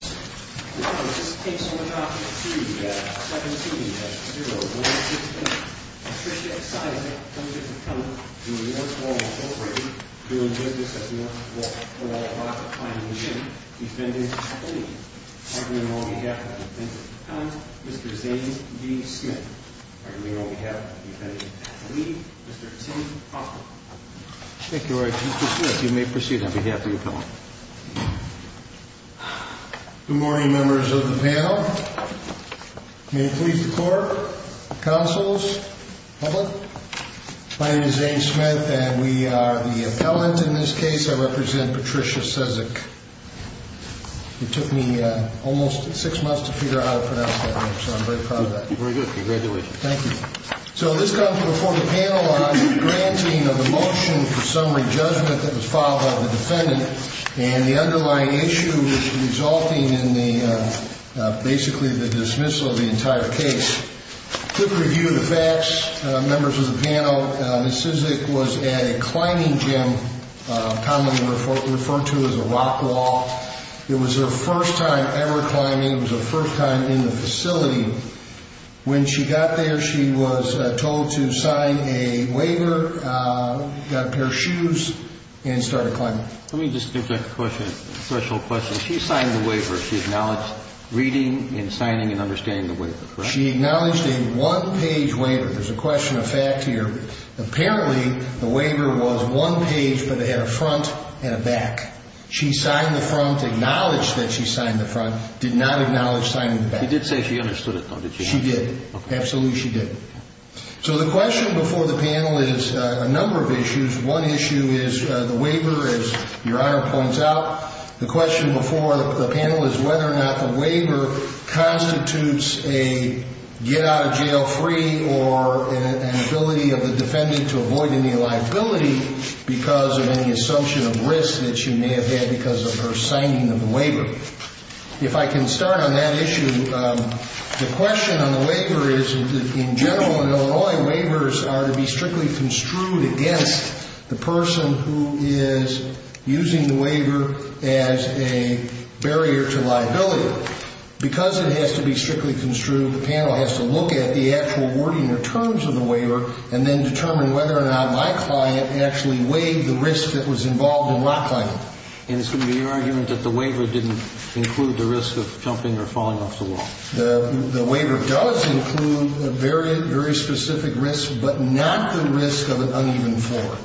This case will be dropped at 3.17 at 0160. Mr. Cizek v. North Wall Inc. doing business at the North Wall. We're all about finding a new defendant's plea. I bring on behalf of the Defendant's Appellant, Mr. Zane D. Smith. I bring on behalf of the Defendant's Appellant, Mr. Tim Parker. Thank you very much, Mr. Smith. You may proceed on behalf of the Appellant. Good morning, members of the panel. May it please the Court, Counsels, public. My name is Zane Smith and we are the Appellant in this case. I represent Patricia Cizek. It took me almost six months to figure out how to pronounce that name, so I'm very proud of that. Very good. Congratulations. Thank you. So this comes before the panel on granting of a motion for summary judgment that was filed by the Defendant and the underlying issue resulting in basically the dismissal of the entire case. Quick review of the facts, members of the panel. Ms. Cizek was at a climbing gym, commonly referred to as a rock wall. It was her first time ever climbing. It was her first time in the facility. When she got there, she was told to sign a waiver, got a pair of shoes, and started climbing. Let me just interject a question, a special question. She signed the waiver. She acknowledged reading and signing and understanding the waiver, correct? She acknowledged a one-page waiver. There's a question of fact here. Apparently, the waiver was one page, but it had a front and a back. She signed the front, acknowledged that she signed the front, did not acknowledge signing the back. She did say she understood it, though, did she not? She did. Absolutely, she did. So the question before the panel is a number of issues. One issue is the waiver, as Your Honor points out. The question before the panel is whether or not the waiver constitutes a get-out-of-jail-free or an ability of the defendant to avoid any liability because of any assumption of risk that she may have had because of her signing of the waiver. If I can start on that issue, the question on the waiver is, in general in Illinois, waivers are to be strictly construed against the person who is using the waiver as a barrier to liability. Because it has to be strictly construed, the panel has to look at the actual wording or terms of the waiver and then determine whether or not my client actually weighed the risk that was involved in rock climbing. And it's going to be your argument that the waiver didn't include the risk of jumping or falling off the wall? The waiver does include a very, very specific risk, but not the risk of an uneven floor.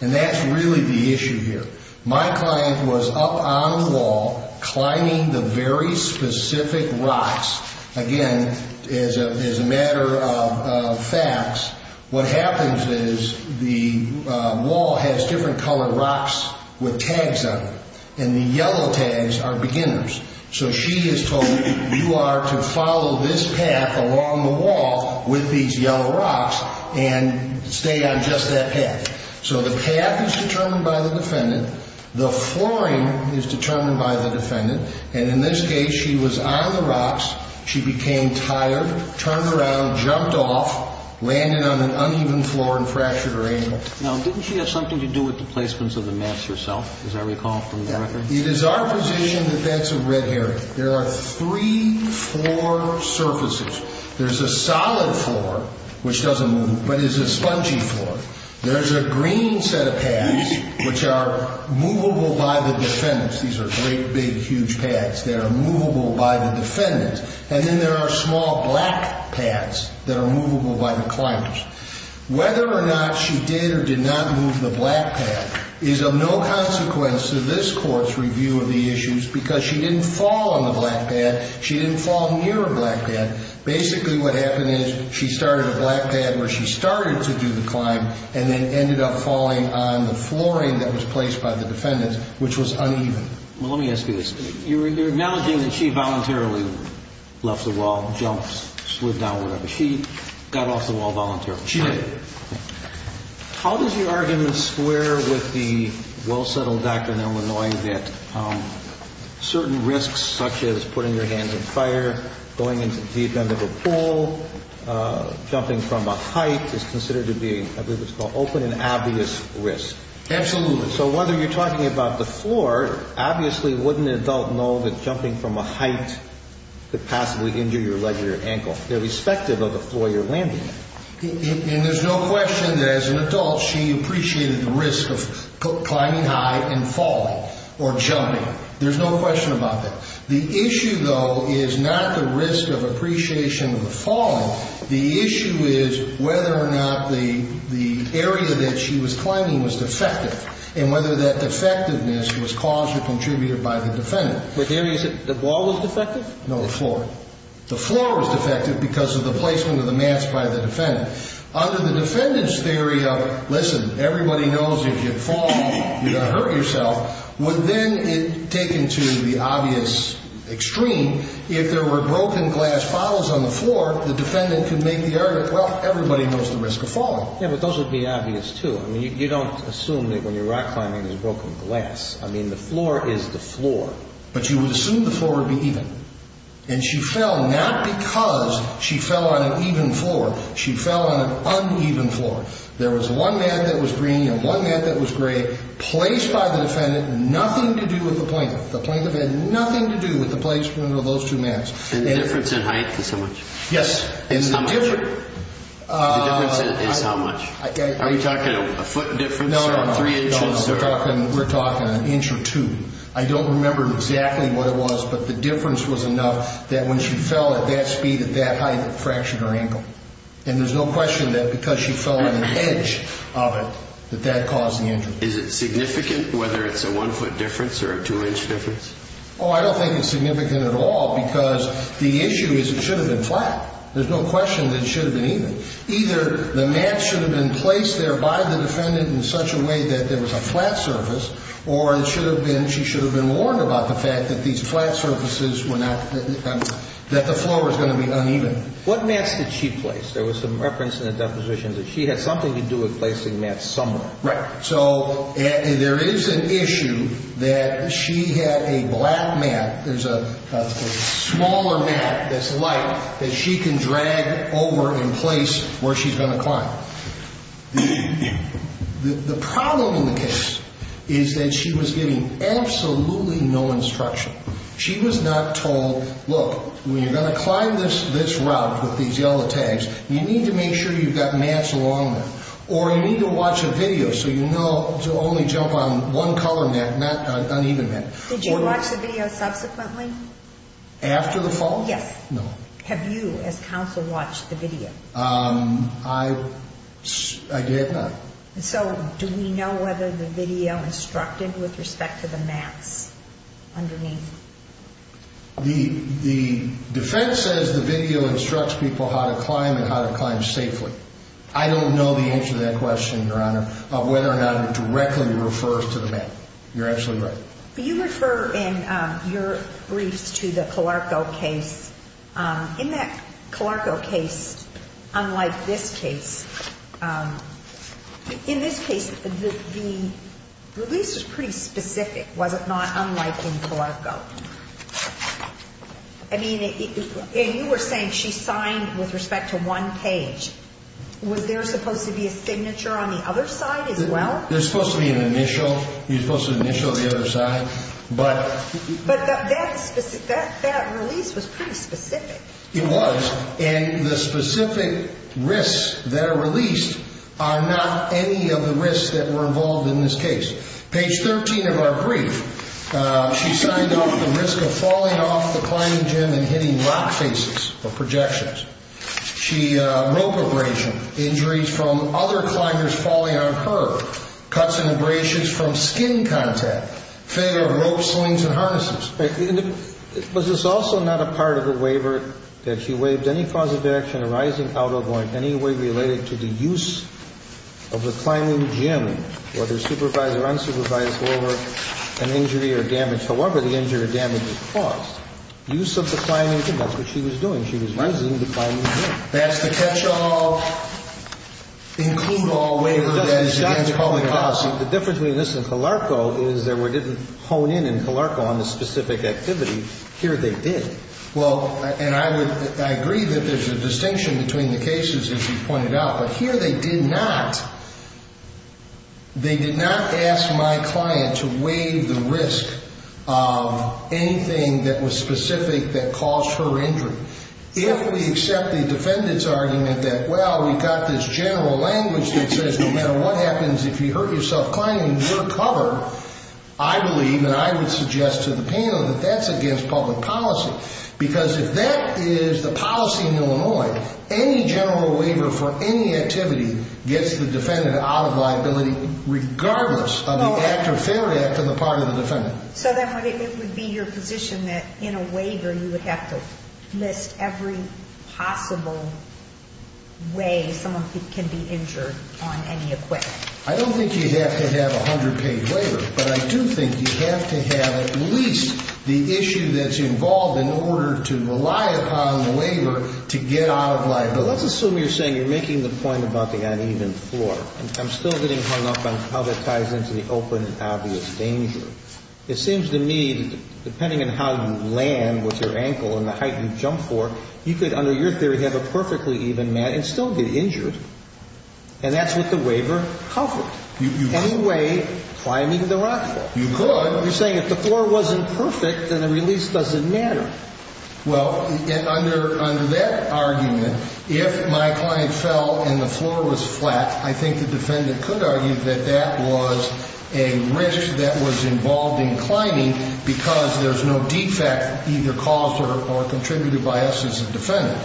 And that's really the issue here. My client was up on the wall climbing the very specific rocks. Again, as a matter of fact, what happens is the wall has different colored rocks with tags on it. And the yellow tags are beginners. So she is told, you are to follow this path along the wall with these yellow rocks and stay on just that path. So the path is determined by the defendant. The flooring is determined by the defendant. And in this case, she was on the rocks. She became tired, turned around, jumped off, landed on an uneven floor and fractured her ankle. Now, didn't she have something to do with the placements of the mats herself, as I recall from the record? It is our position that that's a red herring. There are three floor surfaces. There's a solid floor, which doesn't move, but is a spongy floor. There's a green set of pads, which are movable by the defendants. These are great, big, huge pads that are movable by the defendants. And then there are small black pads that are movable by the climbers. Whether or not she did or did not move the black pad is of no consequence to this Court's review of the issues because she didn't fall on the black pad. She didn't fall near a black pad. Basically, what happened is she started a black pad where she started to do the climb and then ended up falling on the flooring that was placed by the defendants, which was uneven. Well, let me ask you this. You're acknowledging that she voluntarily left the wall, jumped, slid down, whatever. She got off the wall voluntarily. She did. How does your argument square with the well-settled doctrine in Illinois that certain risks, such as putting your hands in fire, going into the deep end of a pool, jumping from a height is considered to be, I believe it's called, open and obvious risk? Absolutely. So whether you're talking about the floor, obviously wouldn't an adult know that jumping from a height could possibly injure your leg or your ankle? Irrespective of the floor you're landing on. And there's no question that as an adult, she appreciated the risk of climbing high and falling or jumping. There's no question about that. The issue, though, is not the risk of appreciation of the falling. The issue is whether or not the area that she was climbing was defective and whether that defectiveness was caused or contributed by the defendant. No, the floor. The floor was defective because of the placement of the mats by the defendant. Under the defendant's theory of, listen, everybody knows if you fall, you're going to hurt yourself, would then take it to the obvious extreme. If there were broken glass bottles on the floor, the defendant could make the argument, well, everybody knows the risk of falling. Yeah, but those would be obvious, too. I mean, you don't assume that when you're rock climbing there's broken glass. I mean, the floor is the floor. But you would assume the floor would be even. And she fell not because she fell on an even floor. She fell on an uneven floor. There was one mat that was green and one mat that was gray, placed by the defendant, nothing to do with the plaintiff. The plaintiff had nothing to do with the placement of those two mats. And the difference in height is how much? Yes. The difference is how much? Are you talking a foot difference or three inches? No, no, no. We're talking an inch or two. I don't remember exactly what it was, but the difference was enough that when she fell at that speed at that height, it fractured her ankle. And there's no question that because she fell on an edge of it that that caused the injury. Is it significant whether it's a one-foot difference or a two-inch difference? Oh, I don't think it's significant at all because the issue is it should have been flat. There's no question that it should have been even. Either the mat should have been placed there by the defendant in such a way that there was a flat surface or it should have been, she should have been warned about the fact that these flat surfaces were not, that the floor was going to be uneven. What mats did she place? There was some reference in the deposition that she had something to do with placing mats somewhere. Right. So there is an issue that she had a black mat. There's a smaller mat that's light that she can drag over and place where she's going to climb. The problem in the case is that she was giving absolutely no instruction. She was not told, look, when you're going to climb this route with these yellow tags, you need to make sure you've got mats along there. Or you need to watch a video so you know to only jump on one color mat, uneven mat. Did you watch the video subsequently? After the fall? Yes. No. Have you as counsel watched the video? I did not. So do we know whether the video instructed with respect to the mats underneath? The defense says the video instructs people how to climb and how to climb safely. I don't know the answer to that question, Your Honor, of whether or not it directly refers to the mat. You're absolutely right. But you refer in your briefs to the Colarco case. In that Colarco case, unlike this case, in this case the release was pretty specific, was it not? Unlike in Colarco. I mean, you were saying she signed with respect to one page. Was there supposed to be a signature on the other side as well? There's supposed to be an initial. You're supposed to initial the other side. But that release was pretty specific. It was. And the specific risks that are released are not any of the risks that were involved in this case. Page 13 of our brief, she signed off the risk of falling off the climbing gym and hitting rock faces or projections. She, rope abrasion, injuries from other climbers falling on her. Cuts and abrasions from skin contact. Failure of rope slings and harnesses. Was this also not a part of the waiver that she waived any cause of action arising out of or in any way related to the use of the climbing gym, whether supervised or unsupervised, over an injury or damage, however the injury or damage was caused. Use of the climbing gym. That's what she was doing. She was using the climbing gym. That's the catch all, include all waiver that is against public policy. The difference between this and Calarco is there were, didn't hone in in Calarco on the specific activity. Here they did. Well, and I would, I agree that there's a distinction between the cases, as you pointed out. But here they did not. They did not ask my client to waive the risk of anything that was specific that caused her injury. If we accept the defendant's argument that, well, we've got this general language that says no matter what happens, if you hurt yourself climbing, you're covered, I believe, and I would suggest to the panel that that's against public policy. Because if that is the policy in Illinois, any general waiver for any activity gets the defendant out of liability, regardless of the act or fair act on the part of the defendant. So then it would be your position that in a waiver you would have to list every possible way someone can be injured on any equipment? I don't think you have to have a hundred-page waiver. But I do think you have to have at least the issue that's involved in order to rely upon the waiver to get out of liability. But let's assume you're saying you're making the point about the uneven floor. I'm still getting hung up on how that ties into the open and obvious danger. It seems to me, depending on how you land with your ankle and the height you jump for, you could, under your theory, have a perfectly even mat and still get injured. And that's what the waiver covered. You could. Any way climbing the rock wall. You could. You're saying if the floor wasn't perfect, then a release doesn't matter. Well, under that argument, if my client fell and the floor was flat, I think the defendant could argue that that was a risk that was involved in climbing because there's no defect either caused or contributed by us as a defendant.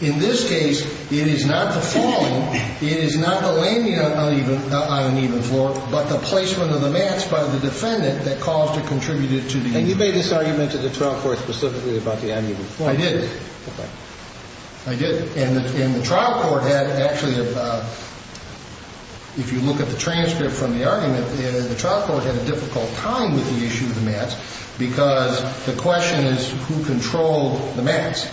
In this case, it is not the falling. It is not the landing on an uneven floor, but the placement of the mats by the defendant that caused or contributed to the uneven floor. And you made this argument to the trial court specifically about the uneven floor. I did. Okay. I did. And the trial court had actually, if you look at the transcript from the argument, the trial court had a difficult time with the issue of the mats because the question is who controlled the mats.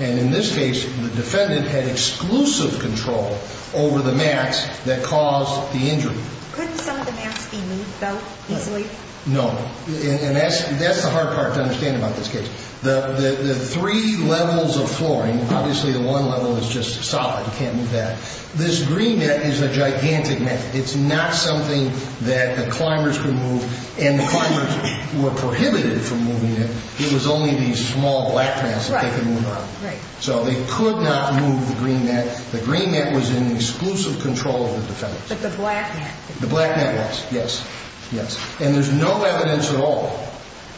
And in this case, the defendant had exclusive control over the mats that caused the injury. Couldn't some of the mats be moved, though, easily? No. And that's the hard part to understand about this case. The three levels of flooring, obviously the one level is just solid. You can't move that. This green net is a gigantic net. It's not something that the climbers can move. And the climbers were prohibited from moving it. It was only these small black mats that they could move around. Right. So they could not move the green net. The green net was in exclusive control of the defense. But the black net. The black net was, yes, yes. And there's no evidence at all,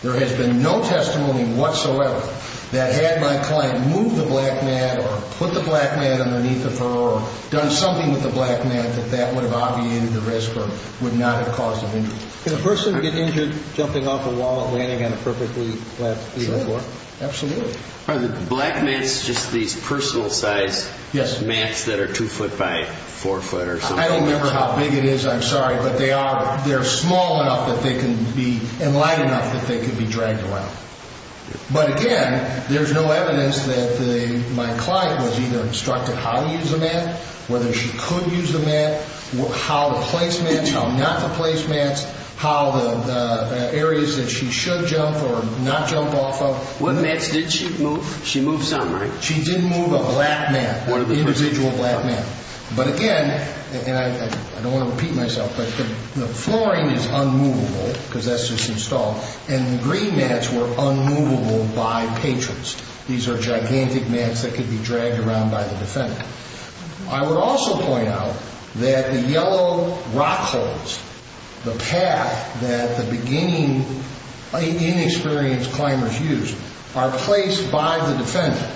there has been no testimony whatsoever, that had my client moved the black mat or put the black mat underneath the floor or done something with the black mat that that would have obviated the risk or would not have caused an injury. Can a person get injured jumping off a wall or landing on a perfectly flat floor? Absolutely. Are the black mats just these personal size mats that are two foot by four foot? I don't remember how big it is. I'm sorry. But they are small enough and light enough that they can be dragged around. But, again, there's no evidence that my client was either instructed how to use the mat, whether she could use the mat, how to place mats, how not to place mats, how the areas that she should jump or not jump off of. What mats did she move? She moved some, right? She didn't move a black mat, an individual black mat. But, again, and I don't want to repeat myself, but the flooring is unmovable because that's just installed, and the green mats were unmovable by patrons. These are gigantic mats that could be dragged around by the defendant. I would also point out that the yellow rock holds, the path that the beginning inexperienced climbers use, are placed by the defendant.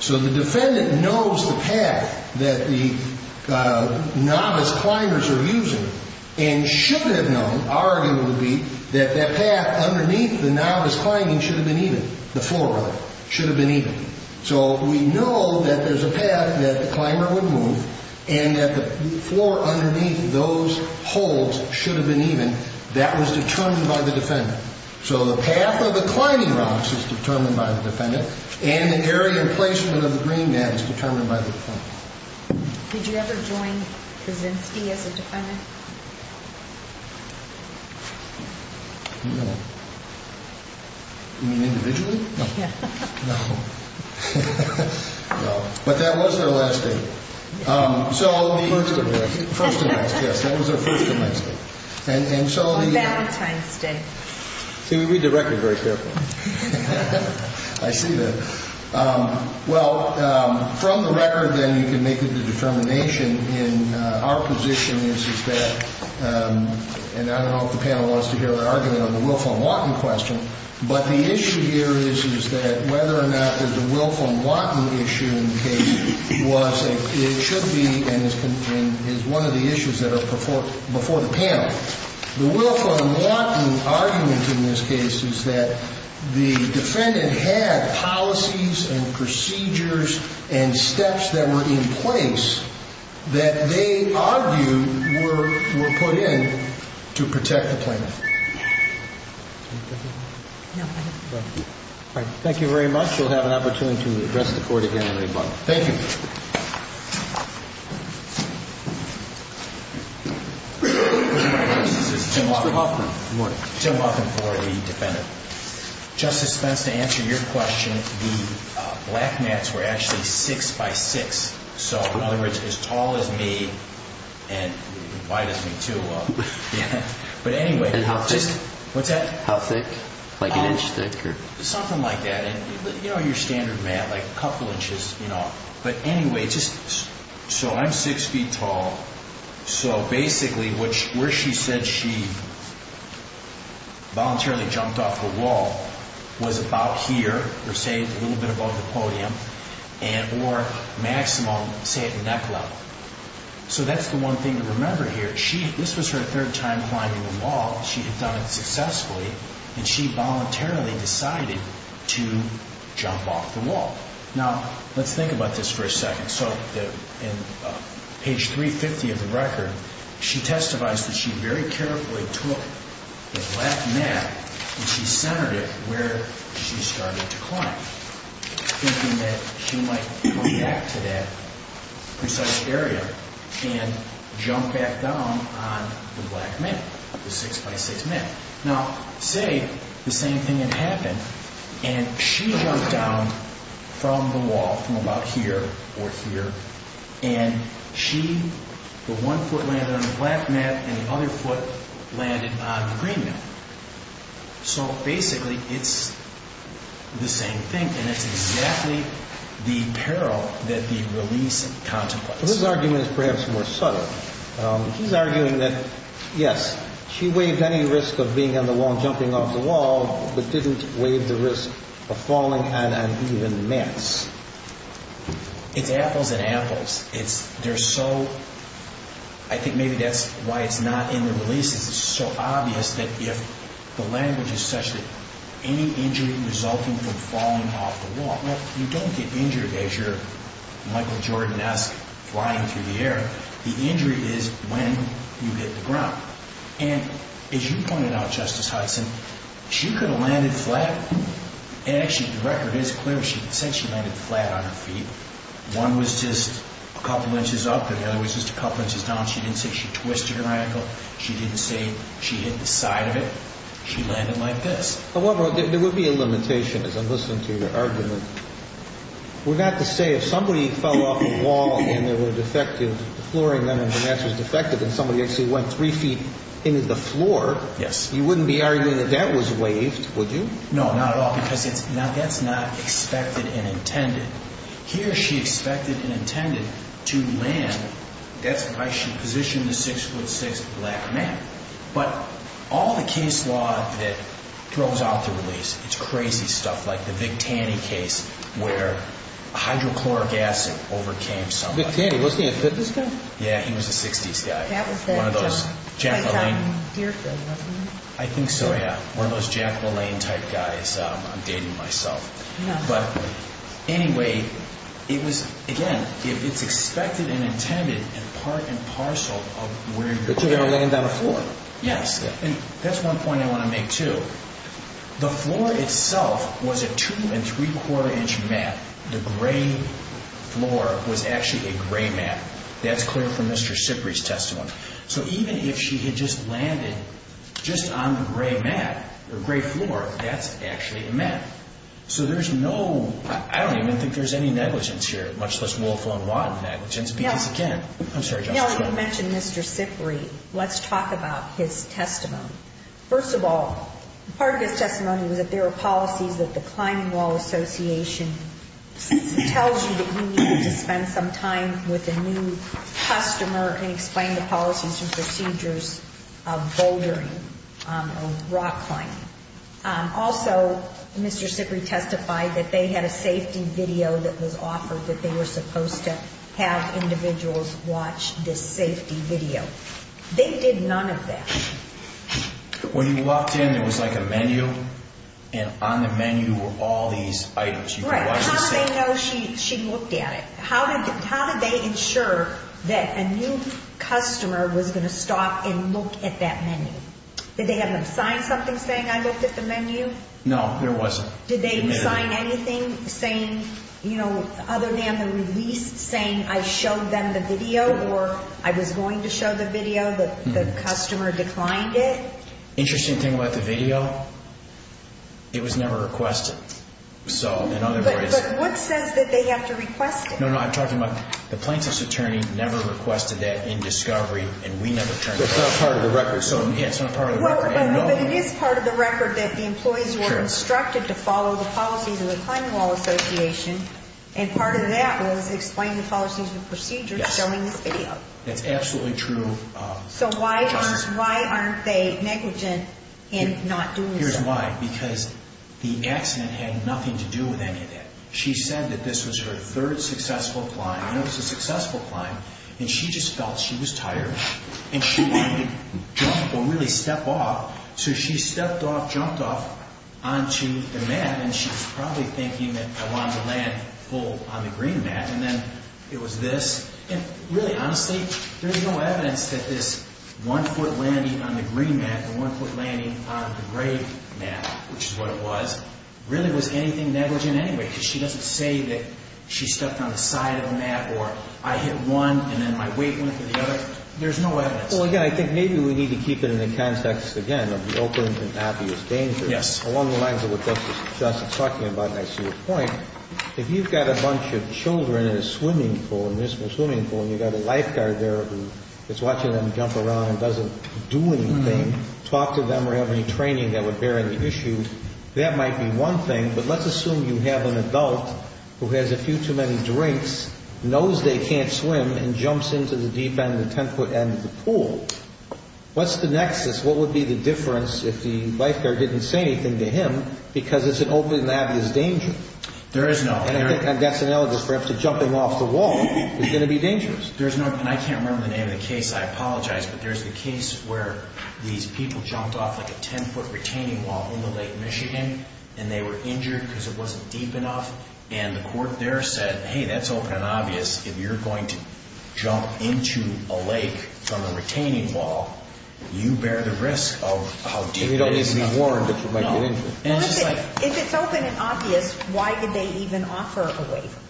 So the defendant knows the path that the novice climbers are using and should have known, arguably, that that path underneath the novice climber should have been even, the floor should have been even. So we know that there's a path that the climber would move and that the floor underneath those holds should have been even. That was determined by the defendant. So the path of the climbing rocks is determined by the defendant and the area placement of the green mat is determined by the defendant. Did you ever join the Zimstie as a defendant? No. You mean individually? No. No. No. But that was their last date. First and last. First and last, yes. That was their first and last date. On Valentine's Day. See, we read the record very carefully. I see that. Well, from the record, then, you can make the determination. Our position is that, and I don't know if the panel wants to hear the argument on the Wilfram Watten question, but the issue here is that whether or not there's a Wilfram Watten issue in the case was and should be and is one of the issues that are before the panel. The Wilfram Watten argument in this case is that the defendant had policies and procedures and steps that were in place that they argued were put in to protect the plaintiff. Thank you very much. We'll have an opportunity to address the Court again in a moment. Thank you. Mr. Huffman, good morning. Tim Huffman for the defendant. Justice Spence, to answer your question, the black mats were actually six by six. So, in other words, as tall as me and as wide as me, too. But anyway. And how thick? What's that? How thick? Like an inch thick? Something like that. And, you know, your standard mat, like a couple inches, you know. But anyway, so I'm six feet tall. So, basically, where she said she voluntarily jumped off the wall was about here, or say a little bit above the podium, or maximum, say, at neck level. So that's the one thing to remember here. This was her third time climbing the wall. She had done it successfully, and she voluntarily decided to jump off the wall. Now, let's think about this for a second. So, in page 350 of the record, she testifies that she very carefully took the black mat and she centered it where she started to climb, thinking that she might go back to that precise area and jump back down on the black mat, the six by six mat. Now, say the same thing had happened, and she jumped down from the wall, from about here or here, and she, the one foot landed on the black mat and the other foot landed on the green mat. So, basically, it's the same thing, and it's exactly the peril that the release contemplates. Well, his argument is perhaps more subtle. He's arguing that, yes, she waived any risk of being on the wall, jumping off the wall, but didn't waive the risk of falling on an even mass. It's apples and apples. They're so, I think maybe that's why it's not in the releases, it's so obvious that if the language is such that any injury resulting from falling off the wall, you don't get injured as you're Michael Jordan-esque flying through the air. The injury is when you hit the ground. And as you pointed out, Justice Hudson, she could have landed flat. Actually, the record is clear. She said she landed flat on her feet. One was just a couple inches up and the other was just a couple inches down. She didn't say she twisted her ankle. She didn't say she hit the side of it. She landed like this. However, there would be a limitation, as I'm listening to your argument. We're about to say if somebody fell off a wall and they were defective, the flooring then of the mass was defective and somebody actually went three feet into the floor, you wouldn't be arguing that that was waived, would you? No, not at all, because that's not expected and intended. Here she expected and intended to land. That's why she positioned the 6'6 black man. But all the case law that throws out the release, it's crazy stuff like the Vic Taney case where hydrochloric acid overcame somebody. Vic Taney, wasn't he a 50s guy? Yeah, he was a 60s guy, one of those Jack LaLanne. I think so, yeah, one of those Jack LaLanne type guys. I'm dating myself. But anyway, it was, again, it's expected and intended and part and parcel of where you're going to land. But you're going to land on the floor. Yes, and that's one point I want to make, too. The floor itself was a two and three-quarter inch mat. The gray floor was actually a gray mat. That's clear from Mr. Sipri's testimony. So even if she had just landed just on the gray mat or gray floor, that's actually a mat. So there's no, I don't even think there's any negligence here, much less Wolf, Long, Watt negligence because, again, I'm sorry, Justice. Now you mentioned Mr. Sipri. Let's talk about his testimony. First of all, part of his testimony was that there are policies that the Climbing Wall Association tells you that you need to spend some time with a new customer and explain the policies and procedures of bouldering or rock climbing. Also, Mr. Sipri testified that they had a safety video that was offered that they were supposed to have individuals watch this safety video. They did none of that. When you walked in, there was like a menu, and on the menu were all these items. Right. How did they know she looked at it? How did they ensure that a new customer was going to stop and look at that menu? Did they have them sign something saying, I looked at the menu? No, there wasn't. Did they sign anything saying, you know, other than the release, saying I showed them the video or I was going to show the video, the customer declined it? Interesting thing about the video, it was never requested. But what says that they have to request it? No, no, I'm talking about the plaintiff's attorney never requested that in discovery, and we never turned it over. It's not part of the record. But it is part of the record that the employees were instructed to follow the policies of the Climbing Wall Association, and part of that was explain the policies and procedures showing this video. That's absolutely true. So why aren't they negligent in not doing so? Here's why. Because the accident had nothing to do with any of that. She said that this was her third successful climb, and it was a successful climb, and she just felt she was tired, and she wanted to jump or really step off. So she stepped off, jumped off onto the mat, and she was probably thinking that I wanted to land full on the green mat, and then it was this. And really, honestly, there's no evidence that this one-foot landing on the green mat and one-foot landing on the gray mat, which is what it was, really was anything negligent anyway, because she doesn't say that she stepped on the side of the mat or I hit one and then my weight went to the other. There's no evidence. Well, again, I think maybe we need to keep it in the context, again, of the open and obvious danger. Yes. Along the lines of what Justice Justice is talking about, and I see your point, if you've got a bunch of children in a swimming pool, a municipal swimming pool, and you've got a lifeguard there who is watching them jump around and doesn't do anything, talk to them or have any training that would bear any issue, that might be one thing. But let's assume you have an adult who has a few too many drinks, knows they can't swim, and jumps into the deep end, the 10-foot end of the pool. What's the nexus? What would be the difference if the lifeguard didn't say anything to him because it's an open and obvious danger? There is no. And that's analogous perhaps to jumping off the wall. It's going to be dangerous. There's no, and I can't remember the name of the case. I apologize, but there's the case where these people jumped off like a 10-foot retaining wall in the Lake Michigan, and they were injured because it wasn't deep enough. And the court there said, hey, that's open and obvious. If you're going to jump into a lake from a retaining wall, you bear the risk of how deep it is. If it's open and obvious, why did they even offer a waiver?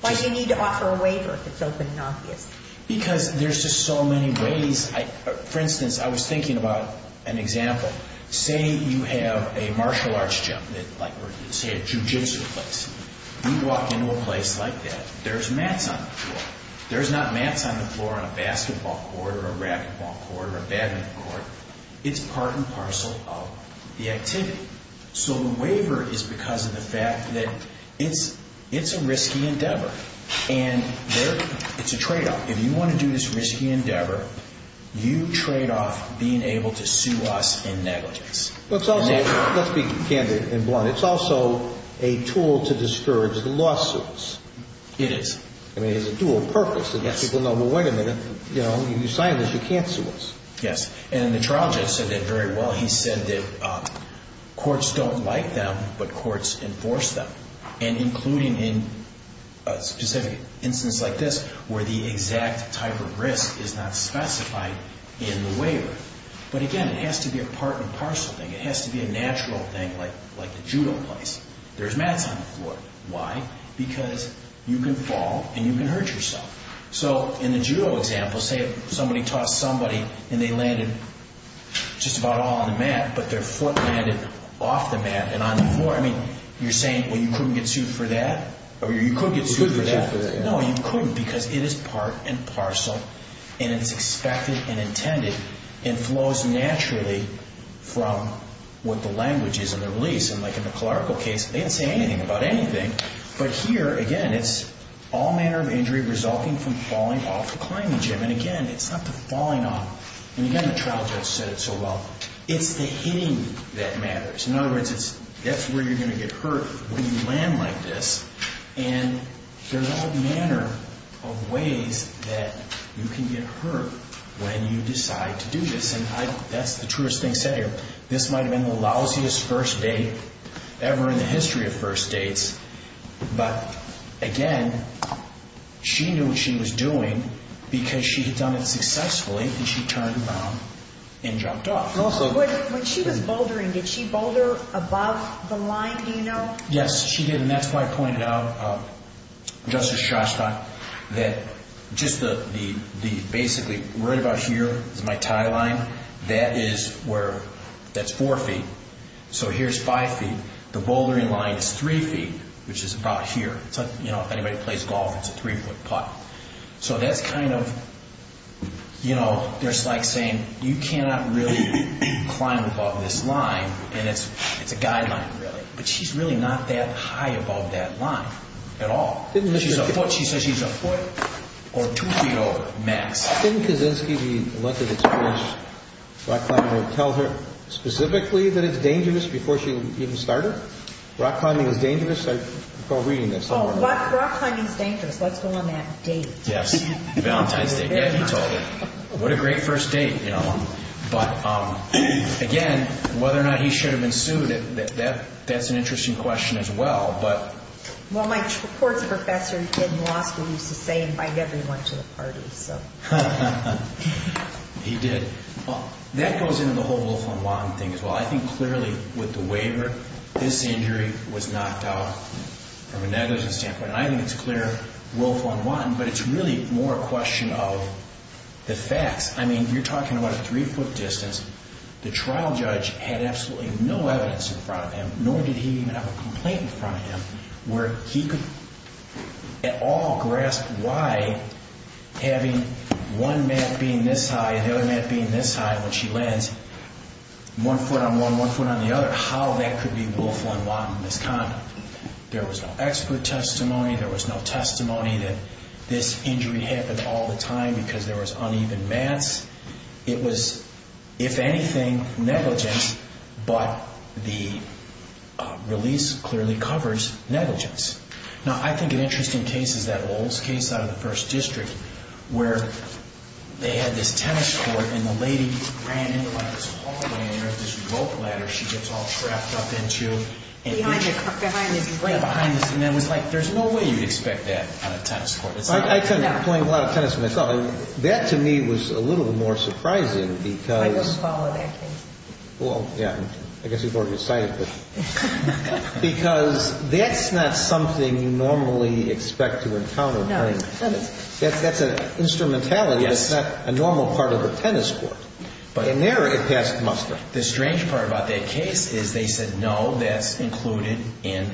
Why do you need to offer a waiver if it's open and obvious? Because there's just so many ways. For instance, I was thinking about an example. Say you have a martial arts gym or, say, a jujitsu place. You walk into a place like that. There's mats on the floor. There's not mats on the floor on a basketball court or a racquetball court or a badminton court. It's part and parcel of the activity. So the waiver is because of the fact that it's a risky endeavor, and it's a tradeoff. If you want to do this risky endeavor, you trade off being able to sue us in negligence. Let's be candid and blunt. It's also a tool to discourage the lawsuits. It is. I mean, it has a dual purpose. It lets people know, well, wait a minute. You signed this. You can't sue us. Yes, and the trial judge said that very well. He said that courts don't like them, but courts enforce them, and including in a specific instance like this where the exact type of risk is not specified in the waiver. But again, it has to be a part and parcel thing. It has to be a natural thing like the judo place. There's mats on the floor. Why? Because you can fall, and you can hurt yourself. So in the judo example, say somebody tossed somebody, and they landed just about all on the mat, but their foot landed off the mat and on the floor. I mean, you're saying, well, you couldn't get sued for that? You could get sued for that. No, you couldn't because it is part and parcel, and it's expected and intended, and flows naturally from what the language is in the release. And like in the clerical case, they didn't say anything about anything. But here, again, it's all manner of injury resulting from falling off a climbing gym. And again, it's not the falling off. And again, the trial judge said it so well. It's the hitting that matters. In other words, that's where you're going to get hurt when you land like this. And there's all manner of ways that you can get hurt when you decide to do this. And that's the truest thing said here. This might have been the lousiest first date ever in the history of first dates. But again, she knew what she was doing because she had done it successfully, and she turned around and jumped off. When she was bouldering, did she boulder above the line? Do you know? Yes, she did, and that's why I pointed out, Justice Shostak, that just the basically right about here is my tie line. That is where that's four feet. So here's five feet. The bouldering line is three feet, which is about here. You know, if anybody plays golf, it's a three-foot putt. So that's kind of, you know, there's like saying, you cannot really climb above this line, and it's a guideline, really. But she's really not that high above that line at all. She says she's a foot or two feet over, max. Didn't Kaczynski, the length of experience rock climbing would tell her specifically that it's dangerous before she even started? Rock climbing is dangerous? I recall reading that somewhere. Rock climbing is dangerous. Let's go on that date. Yes, Valentine's Day. Yeah, he told her. What a great first date, you know. But, again, whether or not he should have been sued, that's an interesting question as well. Well, my courts professor in law school used to say, invite everyone to the party, so. He did. That goes into the whole Wolfram Watten thing as well. I think clearly with the waiver, this injury was knocked out. From a negligence standpoint, I think it's clear Wolfram Watten, but it's really more a question of the facts. I mean, you're talking about a three-foot distance. The trial judge had absolutely no evidence in front of him, nor did he have a complaint in front of him, where he could at all grasp why having one mat being this high and the other mat being this high when she lands, one foot on one, one foot on the other, how that could be Wolfram Watten's misconduct. There was no expert testimony. There was no testimony that this injury happened all the time because there was uneven mats. It was, if anything, negligence, but the release clearly covers negligence. Now, I think an interesting case is that Lowell's case out of the 1st District where they had this tennis court, and the lady ran into this hallway and there was this rope ladder she gets all trapped up into. Behind the drain. And it was like, there's no way you'd expect that on a tennis court. I tend to play a lot of tennis myself. That, to me, was a little bit more surprising because— I don't follow that case. Well, yeah, I guess you've already decided. Because that's not something you normally expect to encounter during tennis. No. That's an instrumentality that's not a normal part of a tennis court. In there, it passed muster. The strange part about that case is they said, no, that's included in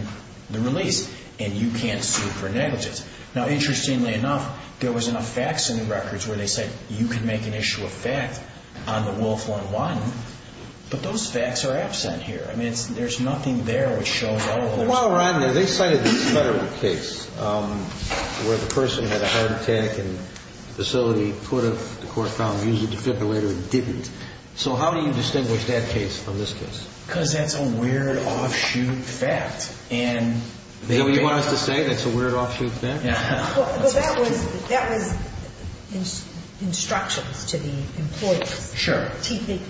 the release, and you can't sue for negligence. Now, interestingly enough, there was enough facts in the records where they said, you can make an issue of fact on the Wolf 1-1, but those facts are absent here. I mean, there's nothing there which shows— While we're on there, they cited this federal case where the person had a heart attack and the facility, the court found, used a defibrillator and didn't. So how do you distinguish that case from this case? Because that's a weird, offshoot fact. Is that what you want us to say, that's a weird, offshoot fact? Well, that was instructions to the employees. Sure.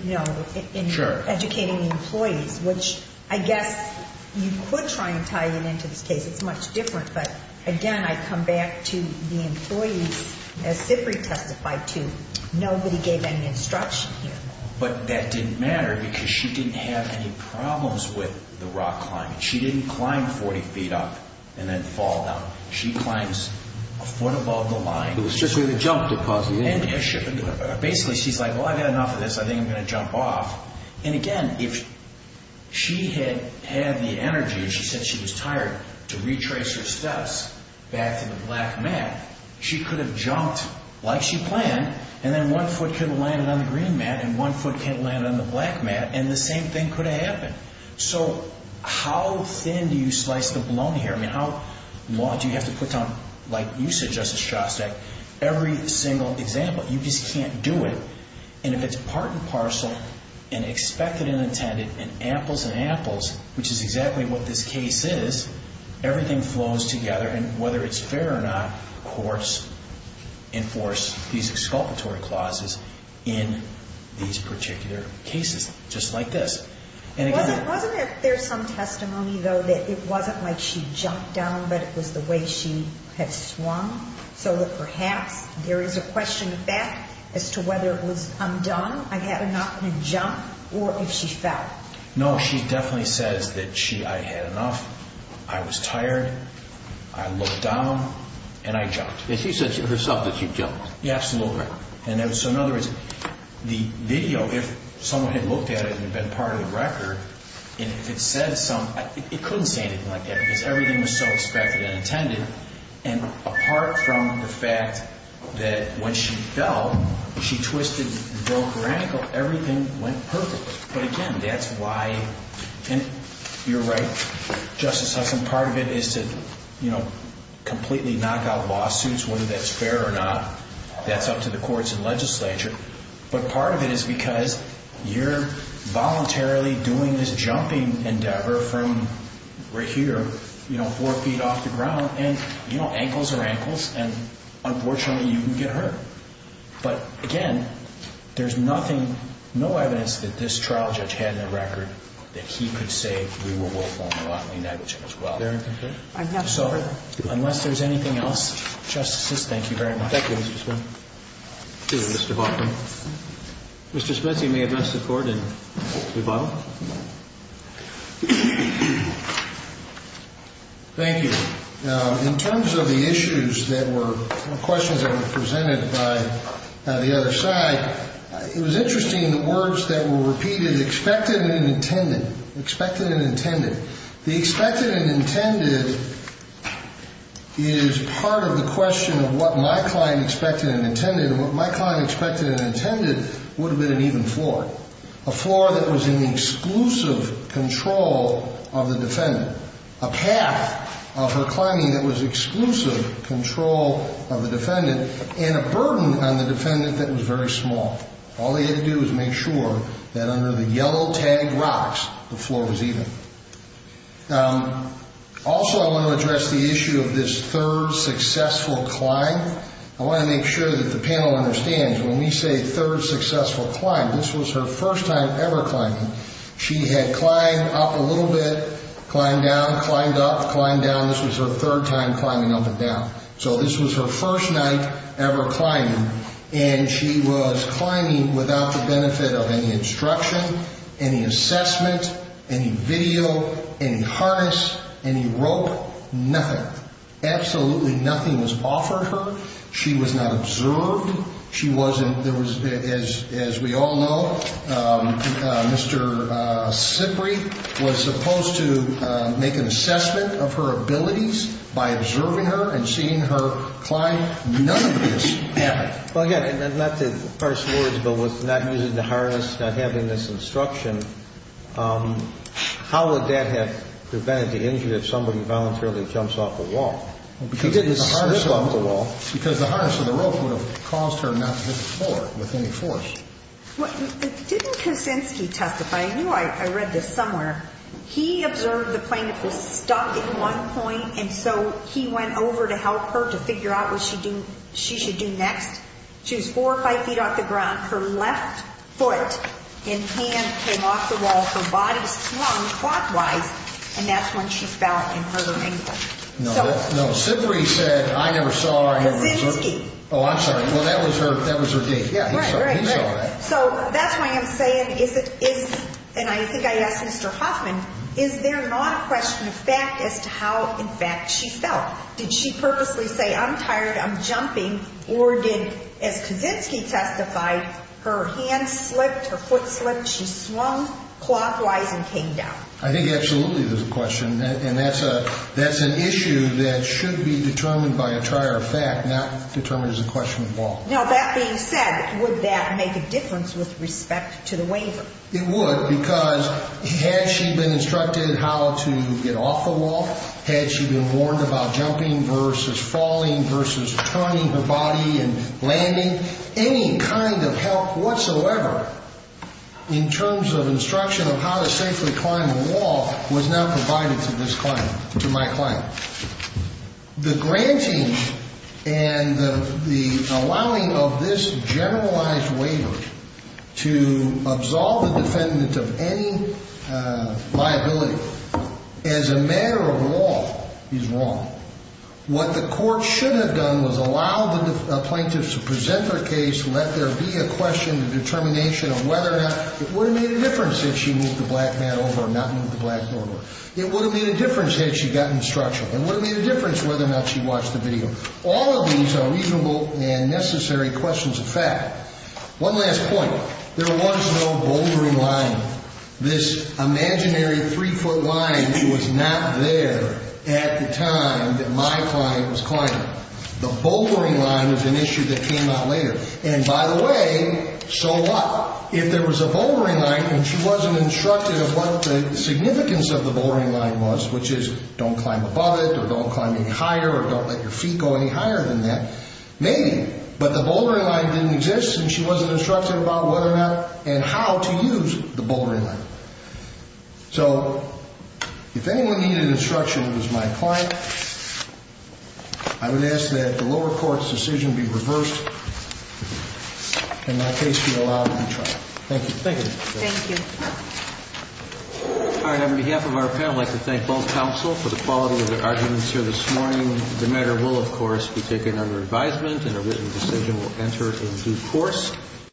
No, in educating the employees, which I guess you could try and tie it into this case. It's much different. But, again, I come back to the employees. As Zipri testified to, nobody gave any instruction here. But that didn't matter because she didn't have any problems with the rock climbing. She didn't climb 40 feet up and then fall down. She climbs a foot above the line. It was just with a jump deposit, isn't it? Basically, she's like, well, I've had enough of this. I think I'm going to jump off. And, again, if she had had the energy, and she said she was tired, to retrace her steps back to the black mat, she could have jumped like she planned, and then one foot could have landed on the green mat, and one foot could have landed on the black mat, and the same thing could have happened. So how thin do you slice the bologna here? I mean, how long do you have to put down, like you said, Justice Shostak, every single example? You just can't do it. And if it's part and parcel, and expected and intended, and apples and apples, which is exactly what this case is, everything flows together, and whether it's fair or not, courts enforce these exculpatory clauses in these particular cases, just like this. Wasn't there some testimony, though, that it wasn't like she jumped down, but it was the way she had swung, so that perhaps there is a question of fact as to whether it was undone, I had enough, and then jump, or if she fell? No, she definitely says that I had enough, I was tired, I looked down, and I jumped. And she said herself that she jumped. Absolutely. And so in other words, the video, if someone had looked at it and been part of the record, and if it said something, it couldn't say anything like that because everything was so expected and intended, and apart from the fact that when she fell, she twisted and broke her ankle, everything went perfect. But again, that's why, and you're right, Justice Hudson, part of it is to completely knock out lawsuits, whether that's fair or not, that's up to the courts and legislature, but part of it is because you're voluntarily doing this jumping endeavor from right here, you know, four feet off the ground, and, you know, ankles are ankles, and unfortunately you can get hurt. But again, there's nothing, no evidence that this trial judge had in the record that he could say we were willful and unlawfully negligent as well. So unless there's anything else, Justices, thank you very much. Thank you, Mr. Smith. Thank you, Mr. Hoffman. Mr. Smith, you may address the Court in rebuttal. Thank you. In terms of the issues that were questions that were presented by the other side, it was interesting the words that were repeated, expected and intended, expected and intended. The expected and intended is part of the question of what my client expected and intended, and what my client expected and intended would have been an even floor, a floor that was in the exclusive control of the defendant, a path of her climbing that was exclusive control of the defendant, and a burden on the defendant that was very small. All they had to do was make sure that under the yellow tag rocks the floor was even. Also, I want to address the issue of this third successful climb. I want to make sure that the panel understands when we say third successful climb, this was her first time ever climbing. She had climbed up a little bit, climbed down, climbed up, climbed down. This was her third time climbing up and down. So this was her first night ever climbing, and she was climbing without the benefit of any instruction, any assessment, any video, any harness, any rope, nothing. Absolutely nothing was offered her. She was not observed. She wasn't as we all know, Mr. Sipri was supposed to make an assessment of her abilities by observing her and seeing her climb. None of this happened. Well, again, not to parse words, but with not using the harness, not having this instruction, how would that have prevented the injury if somebody voluntarily jumps off the wall? She didn't slip off the wall. Because the harness or the rope would have caused her not to hit the floor with any force. Didn't Kosinski testify? I knew I read this somewhere. He observed the plane that was stopped at one point, and so he went over to help her to figure out what she should do next. She was four or five feet off the ground. Her left foot and hand came off the wall. Her body slung quadwise, and that's when she fell and hurt her ankle. No, Sipri said, I never saw her. Kosinski. Oh, I'm sorry. Well, that was her date. Right, right, right. He saw that. So that's why I'm saying, and I think I asked Mr. Hoffman, is there not a question of fact as to how, in fact, she fell? Did she purposely say, I'm tired, I'm jumping, or did, as Kosinski testified, her hand slipped, her foot slipped, she swung quadwise and came down? I think absolutely there's a question, and that's an issue that should be determined by a trier of fact, not determined as a question of law. Now, that being said, would that make a difference with respect to the waiver? It would, because had she been instructed how to get off the wall, had she been warned about jumping versus falling versus turning her body and landing, any kind of help whatsoever in terms of instruction of how to safely climb a wall was not provided to this client, to my client. The granting and the allowing of this generalized waiver to absolve a defendant of any liability as a matter of law is wrong. What the court should have done was allow the plaintiffs to present their case, let there be a question, a determination of whether or not it would have made a difference had she moved the black man over or not moved the black door over. It would have made a difference had she gotten instruction. It would have made a difference whether or not she watched the video. All of these are reasonable and necessary questions of fact. One last point. There was no bouldering line. This imaginary three-foot line was not there at the time that my client was climbing. The bouldering line was an issue that came out later. And by the way, so what? If there was a bouldering line and she wasn't instructed of what the significance of the bouldering line was, which is don't climb above it or don't climb any higher or don't let your feet go any higher than that, maybe. But the bouldering line didn't exist and she wasn't instructed about whether or not and how to use the bouldering line. So if anyone needed instruction, it was my client, I would ask that the lower court's decision be reversed and my case be allowed to be tried. Thank you. Thank you. Thank you. All right. On behalf of our panel, I'd like to thank both counsel for the quality of their arguments here this morning. The matter will, of course, be taken under advisement and a written decision will enter into force.